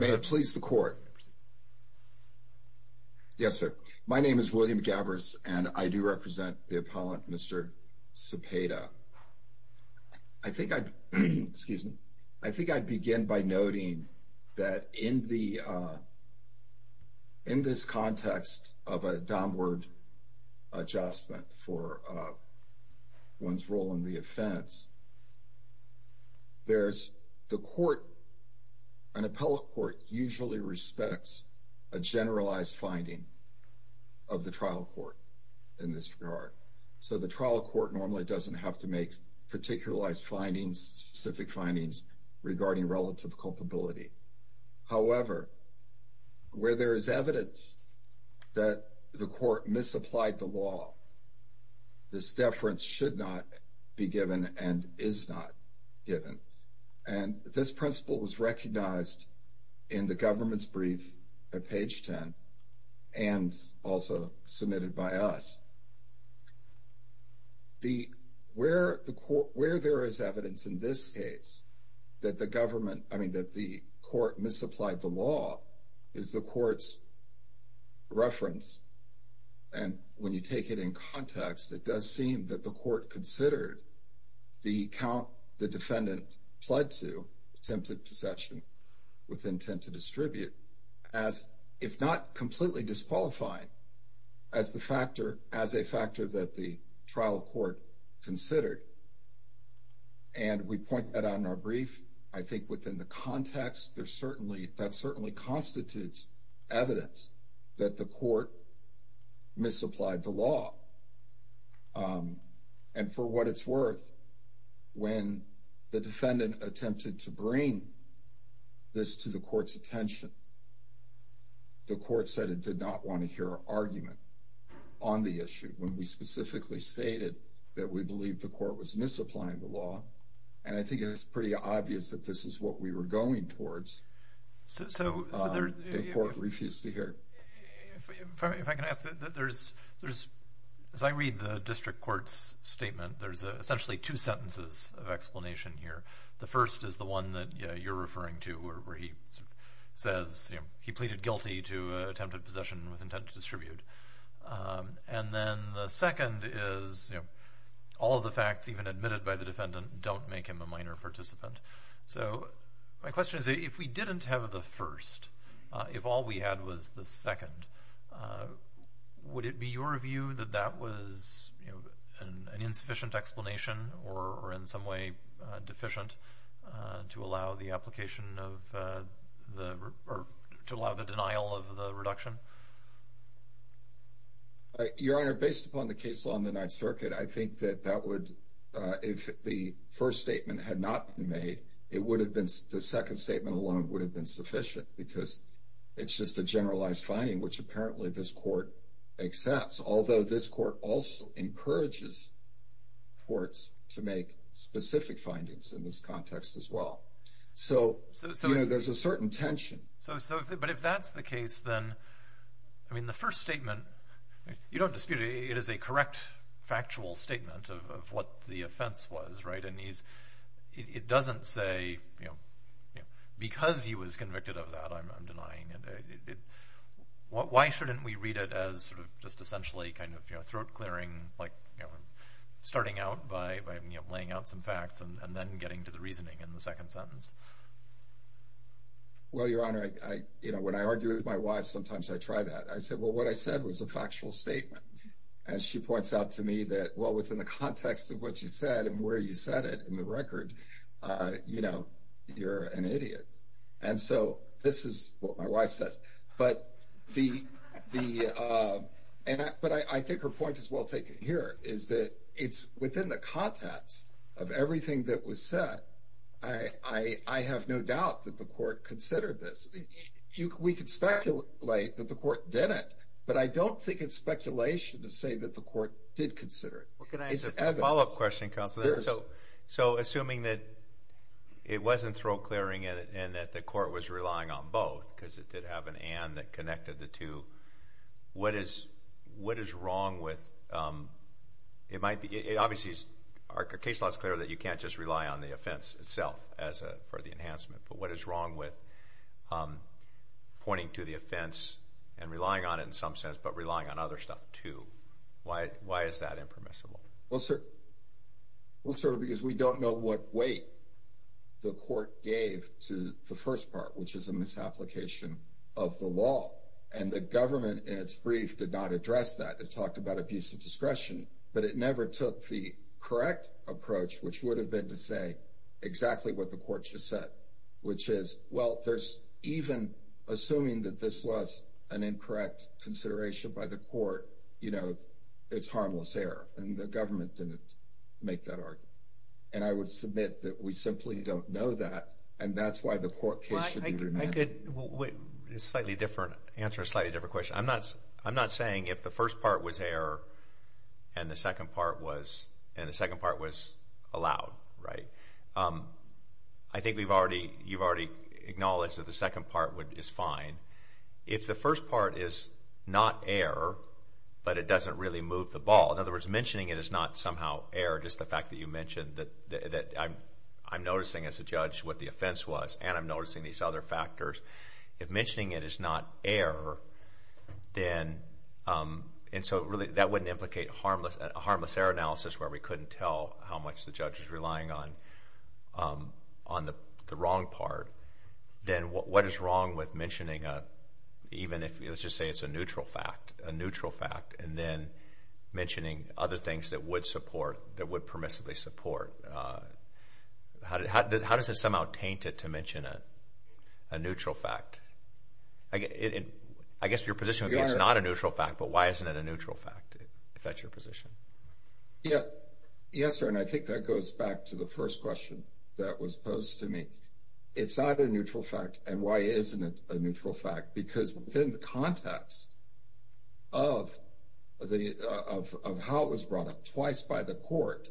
May I please the court? Yes, sir. My name is William Gavris and I do represent the appellant Mr. Cepeda. I think I'd begin by noting that in this context of a downward adjustment for one's role in the offense, there's the court, an appellate court usually respects a generalized finding of the trial court in this regard. So the trial court normally doesn't have to make particularized findings, specific findings regarding relative culpability. However, where there is evidence that the court misapplied the law, this deference should not be given and is not given. And this principle was recognized in the government's brief at page 10 and also submitted by us. Where there is evidence in this case that the government, I mean that the court misapplied the law is the court's reference. And when you take it in context, it does seem that the court considered the count the defendant pled to attempted possession with intent to distribute as if not completely disqualified as a factor that the trial court considered. And we point that out in our brief. I think within the context, that certainly constitutes evidence that the court misapplied the law. And for what it's worth, when the defendant attempted to bring this to the court's attention, the court said it did not want to hear an argument on the issue when we specifically stated that we believe the court was misapplying the law. And I think it's pretty obvious that this is what we were going towards. The court refused to hear. If I can ask, as I read the district court's statement, there's essentially two sentences of explanation here. The first is the one that you're referring to where he says he pleaded guilty to attempted possession with intent to distribute. And then the second is all of the facts even admitted by the defendant don't make him a minor participant. So my question is, if we didn't have the first, if all we had was the second, would it be your view that that was an insufficient explanation or in some way deficient to allow the application of the or to allow the denial of the reduction? Your Honor, based upon the case law in the Ninth Circuit, I think that that would, if the first statement had not been made, it would have been, the second statement alone would have been sufficient because it's just a generalized finding, which apparently this court accepts, although this court also encourages courts to make specific findings in this context as well. So there's a certain tension. But if that's the case, then, I mean, the first statement, you don't dispute it. It is a correct factual statement of what the offense was, right? And it doesn't say, you know, because he was convicted of that, I'm denying it. Why shouldn't we read it as sort of just essentially kind of, you know, throat clearing, like starting out by laying out some facts and then getting to the reasoning in the second sentence? Well, Your Honor, you know, when I argue with my wife, sometimes I try that. I say, well, what I said was a factual statement. And she points out to me that, well, within the context of what you said and where you said it in the record, you know, you're an idiot. And so this is what my wife says. But I think her point is well taken here, is that it's within the context of everything that was said. I have no doubt that the court considered this. We could speculate that the court didn't. But I don't think it's speculation to say that the court did consider it. So assuming that it wasn't throat clearing and that the court was relying on both because it did have an and that connected the two, what is wrong with it might be? Obviously, our case law is clear that you can't just rely on the offense itself for the enhancement. But what is wrong with pointing to the offense and relying on it in some sense but relying on other stuff too? Why is that impermissible? Well, sir, because we don't know what weight the court gave to the first part, which is a misapplication of the law. And the government in its brief did not address that. It talked about abuse of discretion. But it never took the correct approach, which would have been to say exactly what the court should have said, which is, well, there's even assuming that this was an incorrect consideration by the court, you know, it's harmless error. And the government didn't make that argument. And I would submit that we simply don't know that. And that's why the court case should be remanded. I could answer a slightly different question. I'm not saying if the first part was error and the second part was allowed, right? I think you've already acknowledged that the second part is fine. If the first part is not error but it doesn't really move the ball, in other words, mentioning it is not somehow error, just the fact that you mentioned that I'm noticing as a judge what the offense was and I'm noticing these other factors. If mentioning it is not error, and so that wouldn't implicate a harmless error analysis where we couldn't tell how much the judge is relying on the wrong part, then what is wrong with mentioning even if, let's just say it's a neutral fact, a neutral fact, and then mentioning other things that would support, that would permissively support? How does it somehow taint it to mention a neutral fact? I guess your position would be it's not a neutral fact, but why isn't it a neutral fact, if that's your position? Yes, sir, and I think that goes back to the first question that was posed to me. It's not a neutral fact, and why isn't it a neutral fact? Because within the context of how it was brought up twice by the court,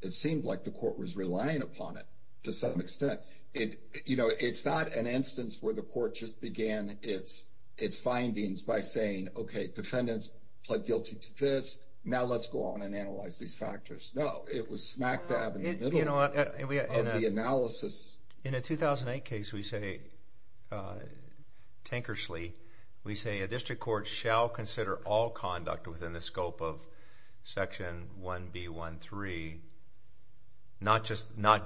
it seemed like the court was relying upon it to some extent. It's not an instance where the court just began its findings by saying, okay, defendants pled guilty to this, now let's go on and analyze these factors. No, it was smack dab in the middle of the analysis. In a 2008 case, we say, Tankersley, we say a district court shall consider all conduct within the scope of Section 1B13, not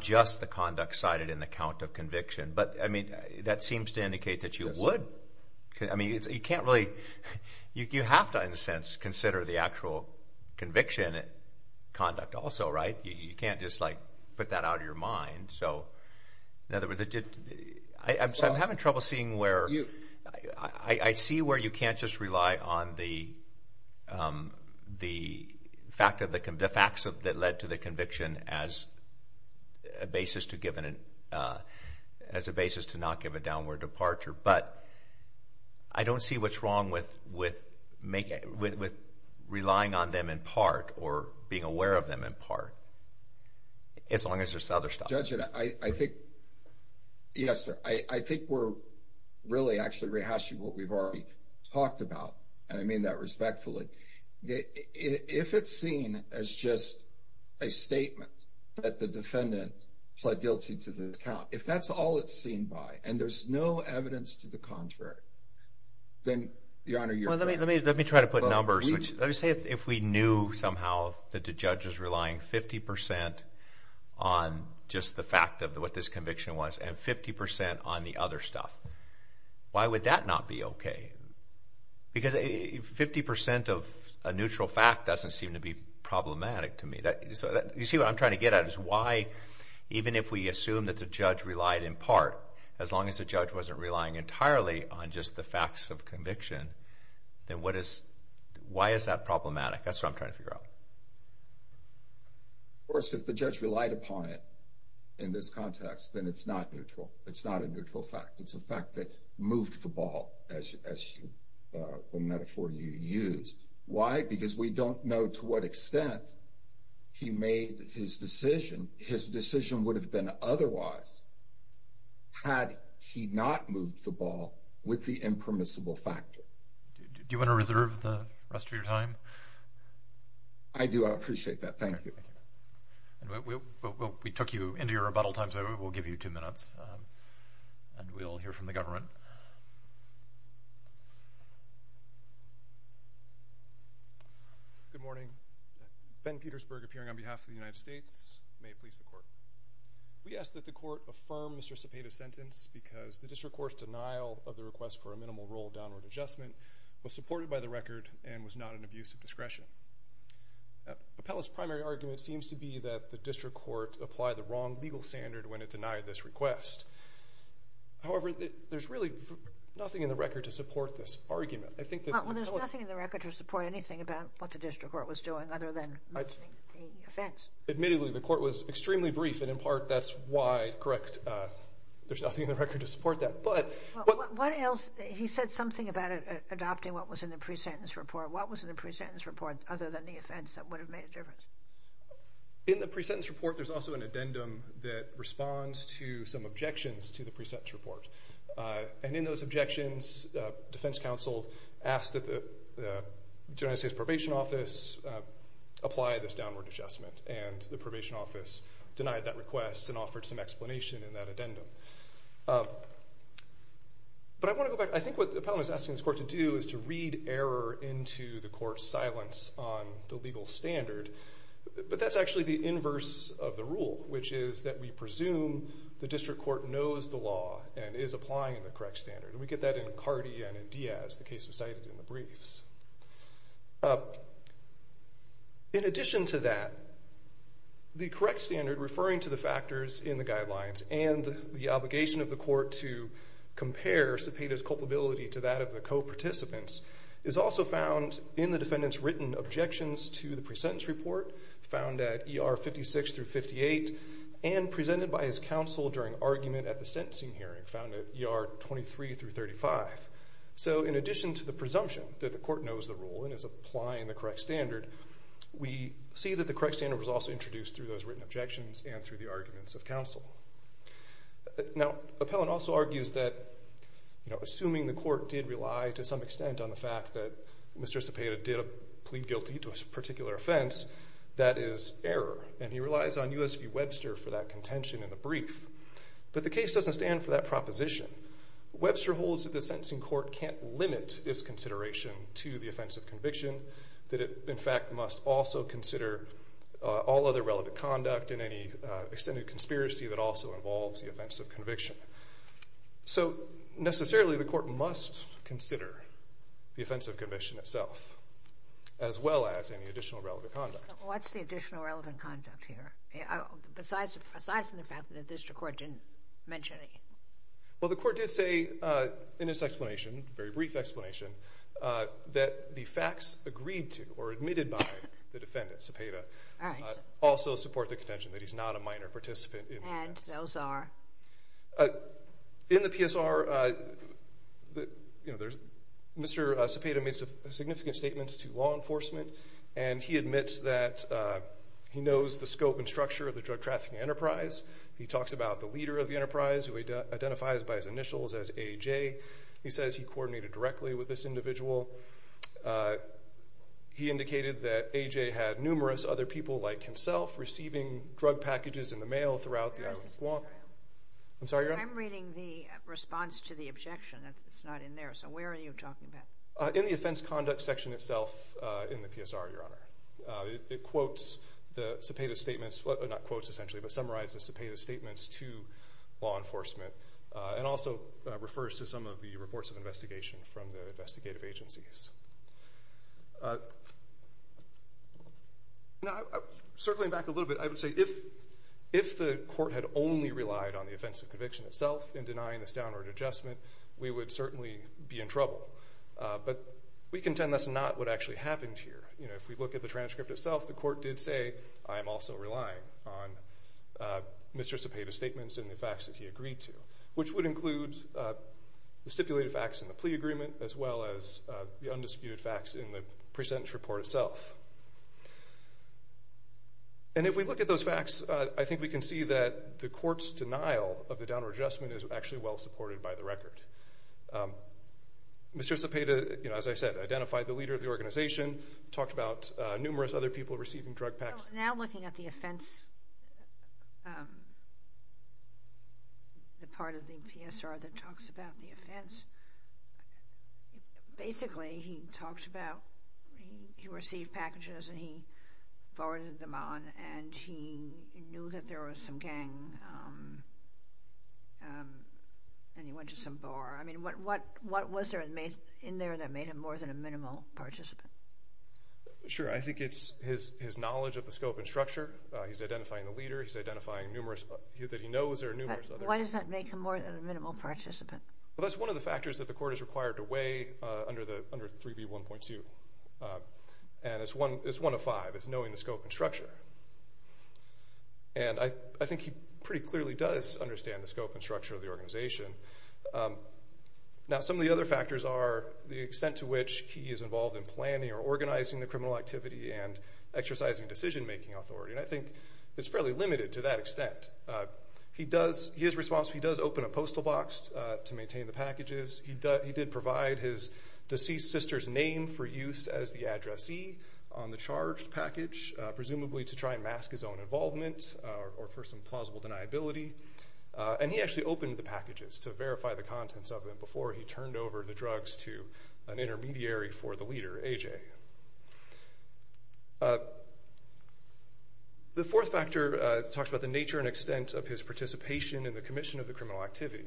just the conduct cited in the count of conviction. But, I mean, that seems to indicate that you would. I mean, you can't really, you have to in a sense consider the actual conviction conduct also, right? You can't just like put that out of your mind. So, in other words, I'm having trouble seeing where, I see where you can't just rely on the facts that led to the conviction as a basis to not give a downward departure. But, I don't see what's wrong with relying on them in part or being aware of them in part, as long as there's other stuff. Judge, I think, yes, sir, I think we're really actually rehashing what we've already talked about, and I mean that respectfully. If it's seen as just a statement that the defendant pled guilty to this count, if that's all it's seen by and there's no evidence to the contrary, then, Your Honor, you're right. Well, let me try to put numbers. Let me say if we knew somehow that the judge is relying 50% on just the fact of what this conviction was and 50% on the other stuff, why would that not be okay? Because 50% of a neutral fact doesn't seem to be problematic to me. You see what I'm trying to get at is why, even if we assume that the judge relied in part, as long as the judge wasn't relying entirely on just the facts of conviction, then why is that problematic? That's what I'm trying to figure out. Of course, if the judge relied upon it in this context, then it's not neutral. It's not a neutral fact. It's a fact that moved the ball, as the metaphor you used. Why? Because we don't know to what extent he made his decision. His decision would have been otherwise had he not moved the ball with the impermissible factor. Do you want to reserve the rest of your time? I do. I appreciate that. Thank you. We took you into your rebuttal time, so we'll give you two minutes, and we'll hear from the government. Good morning. Ben Petersburg, appearing on behalf of the United States. May it please the Court. We ask that the Court affirm Mr. Cepeda's sentence because the district court's denial of the request for a minimal rule of downward adjustment was supported by the record and was not an abuse of discretion. The panelist's primary argument seems to be that the district court applied the wrong legal standard when it denied this request. However, there's really nothing in the record to support this argument. Well, there's nothing in the record to support anything about what the district court was doing other than mentioning the offense. Admittedly, the court was extremely brief, and in part that's why, correct, there's nothing in the record to support that. He said something about adopting what was in the pre-sentence report. What was in the pre-sentence report other than the offense that would have made a difference? In the pre-sentence report, there's also an addendum that responds to some objections to the pre-sentence report. And in those objections, defense counsel asked that the United States Probation Office apply this downward adjustment, and the probation office denied that request and offered some explanation in that addendum. But I want to go back. I think what the panelist is asking this court to do is to read error into the court's silence on the legal standard. But that's actually the inverse of the rule, which is that we presume the district court knows the law and is applying the correct standard. And we get that in Cardi and in Diaz, the cases cited in the briefs. In addition to that, the correct standard referring to the factors in the guidelines and the obligation of the court to compare Cepeda's culpability to that of the co-participants is also found in the defendant's written objections to the pre-sentence report found at ER 56 through 58 and presented by his counsel during argument at the sentencing hearing found at ER 23 through 35. So in addition to the presumption that the court knows the rule and is applying the correct standard, we see that the correct standard was also introduced through those written objections and through the arguments of counsel. Now, Appellant also argues that assuming the court did rely to some extent on the fact that Mr. Cepeda did plead guilty to a particular offense, that is error, and he relies on U.S. v. Webster for that contention in the brief. But the case doesn't stand for that proposition. Webster holds that the sentencing court can't limit its consideration to the offense of conviction, that it, in fact, must also consider all other relevant conduct and any extended conspiracy that also involves the offense of conviction. So necessarily the court must consider the offense of conviction itself as well as any additional relevant conduct. What's the additional relevant conduct here, aside from the fact that the district court didn't mention it? Well, the court did say in its explanation, a very brief explanation, that the facts agreed to or admitted by the defendant, Cepeda, also support the contention that he's not a minor participant in the facts. And those are? In the PSR, Mr. Cepeda made significant statements to law enforcement, and he admits that he knows the scope and structure of the drug trafficking enterprise. He talks about the leader of the enterprise, who he identifies by his initials as A.J. He says he coordinated directly with this individual. He indicated that A.J. had numerous other people like himself receiving drug packages in the mail throughout the Guam. I'm sorry, Your Honor? I'm reading the response to the objection. It's not in there. So where are you talking about? In the offense conduct section itself in the PSR, Your Honor. It quotes the Cepeda's statements, well, not quotes essentially, but summarizes Cepeda's statements to law enforcement and also refers to some of the reports of investigation from the investigative agencies. Now, circling back a little bit, I would say if the court had only relied on the offense of conviction itself in denying this downward adjustment, we would certainly be in trouble. But we contend that's not what actually happened here. You know, if we look at the transcript itself, the court did say, I am also relying on Mr. Cepeda's statements and the facts that he agreed to, which would include the stipulated facts in the plea agreement as well as the undisputed facts in the present report itself. And if we look at those facts, I think we can see that the court's denial of the downward adjustment is actually well supported by the record. Mr. Cepeda, you know, as I said, identified the leader of the organization, talked about numerous other people receiving drug packages. Now looking at the offense, the part of the PSR that talks about the offense, basically he talked about he received packages and he forwarded them on and he knew that there was some gang and he went to some bar. I mean, what was there in there that made him more than a minimal participant? Sure, I think it's his knowledge of the scope and structure. He's identifying the leader. He's identifying numerous that he knows there are numerous other people. But why does that make him more than a minimal participant? Well, that's one of the factors that the court is required to weigh under 3B1.2. And it's one of five. It's knowing the scope and structure. And I think he pretty clearly does understand the scope and structure of the organization. Now some of the other factors are the extent to which he is involved in planning or organizing the criminal activity and exercising decision-making authority. And I think it's fairly limited to that extent. His response, he does open a postal box to maintain the packages. He did provide his deceased sister's name for use as the addressee on the charged package, presumably to try and mask his own involvement or for some plausible deniability. And he actually opened the packages to verify the contents of them before he turned over the drugs to an intermediary for the leader, AJ. The fourth factor talks about the nature and extent of his participation in the commission of the criminal activity.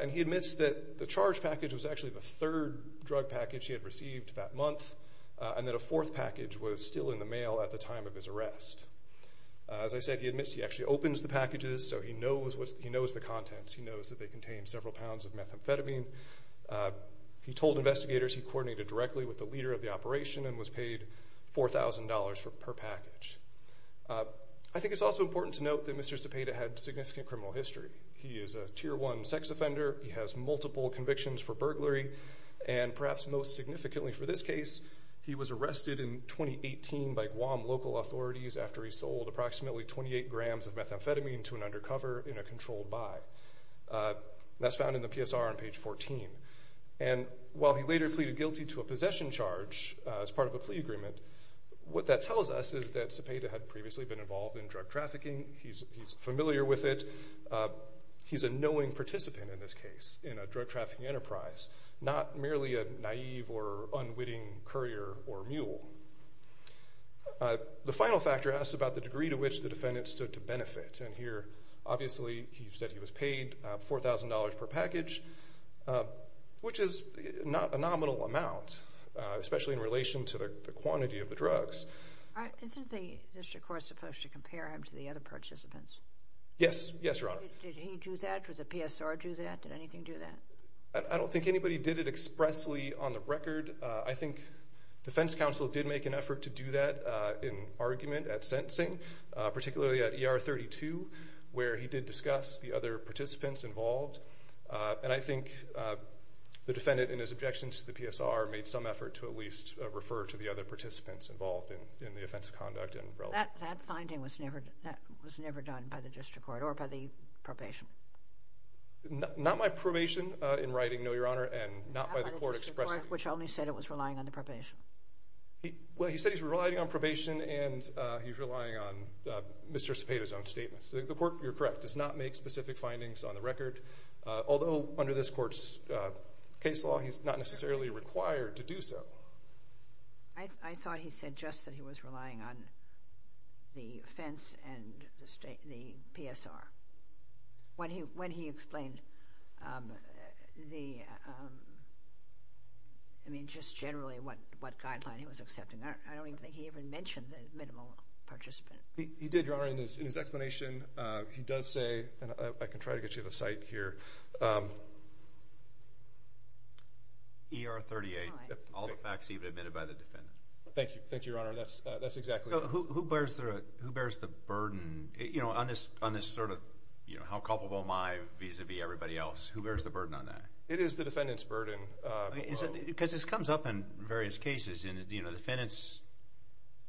And he admits that the charged package was actually the third drug package he had received that month and that a fourth package was still in the mail at the time of his arrest. As I said, he admits he actually opens the packages, so he knows the contents. He knows that they contain several pounds of methamphetamine. He told investigators he coordinated directly with the leader of the operation and was paid $4,000 per package. I think it's also important to note that Mr. Cepeda had significant criminal history. He is a Tier 1 sex offender. He has multiple convictions for burglary, and perhaps most significantly for this case, he was arrested in 2018 by Guam local authorities after he sold approximately 28 grams of methamphetamine to an undercover in a controlled buy. That's found in the PSR on page 14. And while he later pleaded guilty to a possession charge as part of a plea agreement, what that tells us is that Cepeda had previously been involved in drug trafficking. He's familiar with it. He's a knowing participant in this case in a drug trafficking enterprise, not merely a naive or unwitting courier or mule. The final factor asks about the degree to which the defendant stood to benefit, and here obviously he said he was paid $4,000 per package, which is not a nominal amount, especially in relation to the quantity of the drugs. Isn't the district court supposed to compare him to the other participants? Yes. Yes, Your Honor. Did he do that? Did the PSR do that? Did anything do that? I don't think anybody did it expressly on the record. I think defense counsel did make an effort to do that in argument at sentencing, particularly at ER 32 where he did discuss the other participants involved. And I think the defendant, in his objections to the PSR, made some effort to at least refer to the other participants involved in the offense of conduct. That finding was never done by the district court or by the probation. Not by probation in writing, no, Your Honor, and not by the court expressly. Not by the district court, which only said it was relying on the probation. Well, he said he's relying on probation, and he's relying on Mr. Cepeda's own statements. The court, you're correct, does not make specific findings on the record, although under this court's case law he's not necessarily required to do so. I thought he said just that he was relying on the offense and the PSR. When he explained the, I mean, just generally what guideline he was accepting, I don't even think he even mentioned the minimal participant. He did, Your Honor. In his explanation, he does say, and I can try to get you the cite here, ER 38, all the facts even admitted by the defendant. Thank you. Thank you, Your Honor. That's exactly it. Who bears the burden on this sort of how culpable am I vis-a-vis everybody else? Who bears the burden on that? It is the defendant's burden. Because this comes up in various cases. I'm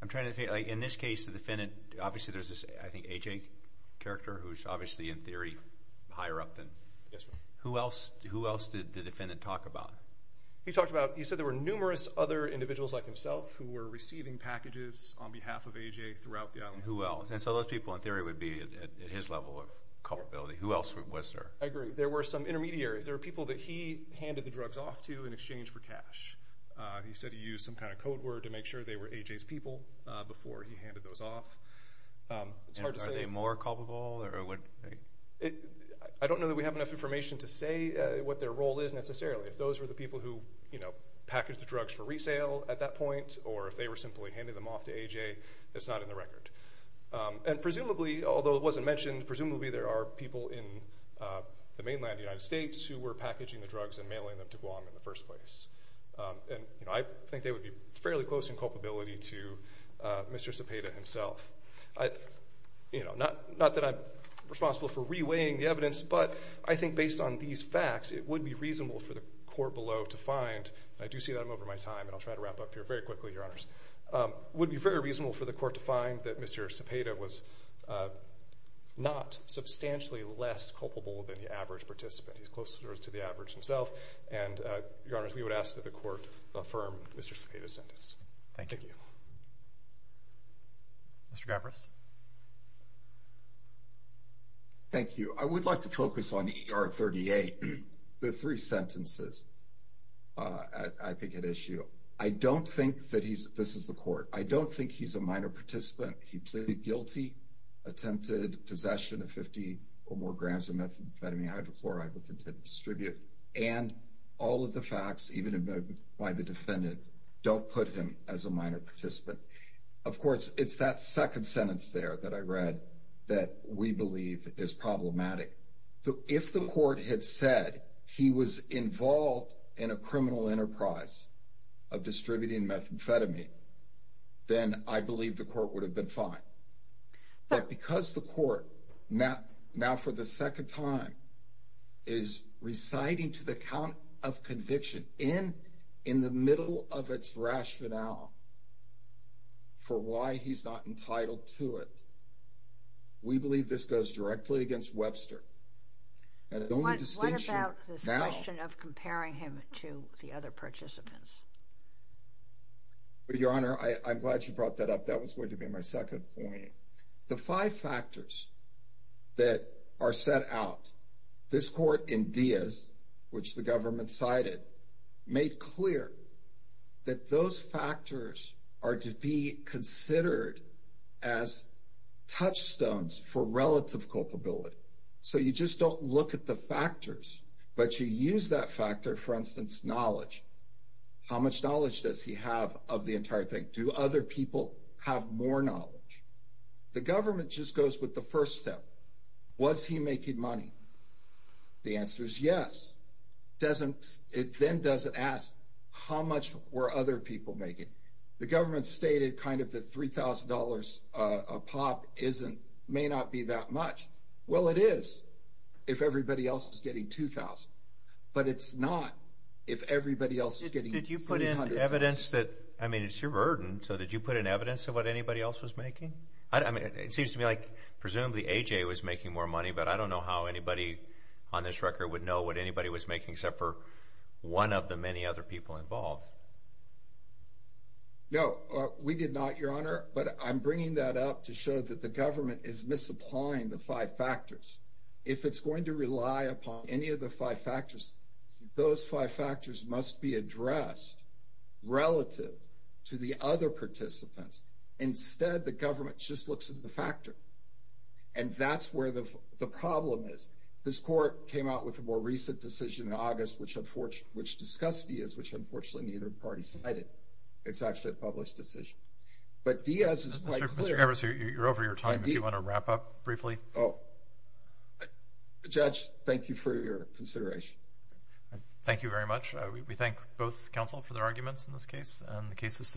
trying to think. In this case, the defendant, obviously there's this, I think, A.J. character who's obviously in theory higher up than. Yes, sir. Who else did the defendant talk about? He talked about, he said there were numerous other individuals like himself who were receiving packages on behalf of A.J. throughout the island. Who else? And so those people in theory would be at his level of culpability. Who else was there? I agree. There were some intermediaries. There were people that he handed the drugs off to in exchange for cash. He said he used some kind of code word to make sure they were A.J.'s people before he handed those off. Are they more culpable? I don't know that we have enough information to say what their role is necessarily. If those were the people who packaged the drugs for resale at that point or if they were simply handing them off to A.J., it's not in the record. And presumably, although it wasn't mentioned, presumably there are people in the mainland United States who were packaging the drugs and mailing them to Guam in the first place. And I think they would be fairly close in culpability to Mr. Cepeda himself. Not that I'm responsible for reweighing the evidence, but I think based on these facts it would be reasonable for the court below to find, and I do see that I'm over my time and I'll try to wrap up here very quickly, Your Honors, it would be very reasonable for the court to find that Mr. Cepeda was not substantially less culpable than the average participant. He's closer to the average himself. And, Your Honors, we would ask that the court affirm Mr. Cepeda's sentence. Thank you. Mr. Gavras. Thank you. I would like to focus on E.R. 38. The three sentences I think had issue. I don't think that he's – this is the court. I don't think he's a minor participant. He pleaded guilty, attempted possession of 50 or more grams of methamphetamine hydrochloride with intent to distribute, and all of the facts, even why the defendant, don't put him as a minor participant. Of course, it's that second sentence there that I read that we believe is problematic. If the court had said he was involved in a criminal enterprise of distributing methamphetamine, then I believe the court would have been fine. But because the court now for the second time is reciting to the count of conviction in the middle of its rationale for why he's not entitled to it, we believe this goes directly against Webster. What about this question of comparing him to the other participants? Your Honor, I'm glad you brought that up. That was going to be my second point. The five factors that are set out, this court in Diaz, which the government cited, made clear that those factors are to be considered as touchstones for relative culpability. So you just don't look at the factors, but you use that factor, for instance, knowledge. How much knowledge does he have of the entire thing? Do other people have more knowledge? The government just goes with the first step. Was he making money? The answer is yes. It then doesn't ask how much were other people making. The government stated kind of the $3,000 a pop may not be that much. Well, it is if everybody else is getting $2,000. But it's not if everybody else is getting $300. Did you put in evidence that, I mean, it's your burden, so did you put in evidence of what anybody else was making? It seems to me like presumably AJ was making more money, but I don't know how anybody on this record would know what anybody was making except for one of the many other people involved. No, we did not, Your Honor, but I'm bringing that up to show that the government is misapplying the five factors. If it's going to rely upon any of the five factors, those five factors must be addressed relative to the other participants. Instead, the government just looks at the factor, and that's where the problem is. This court came out with a more recent decision in August, which discussed Diaz, which unfortunately neither party cited. It's actually a published decision. But Diaz is quite clear. Mr. Evers, you're over your time. If you want to wrap up briefly. Judge, thank you for your consideration. Thank you very much. We thank both counsel for their arguments in this case, and the case is submitted.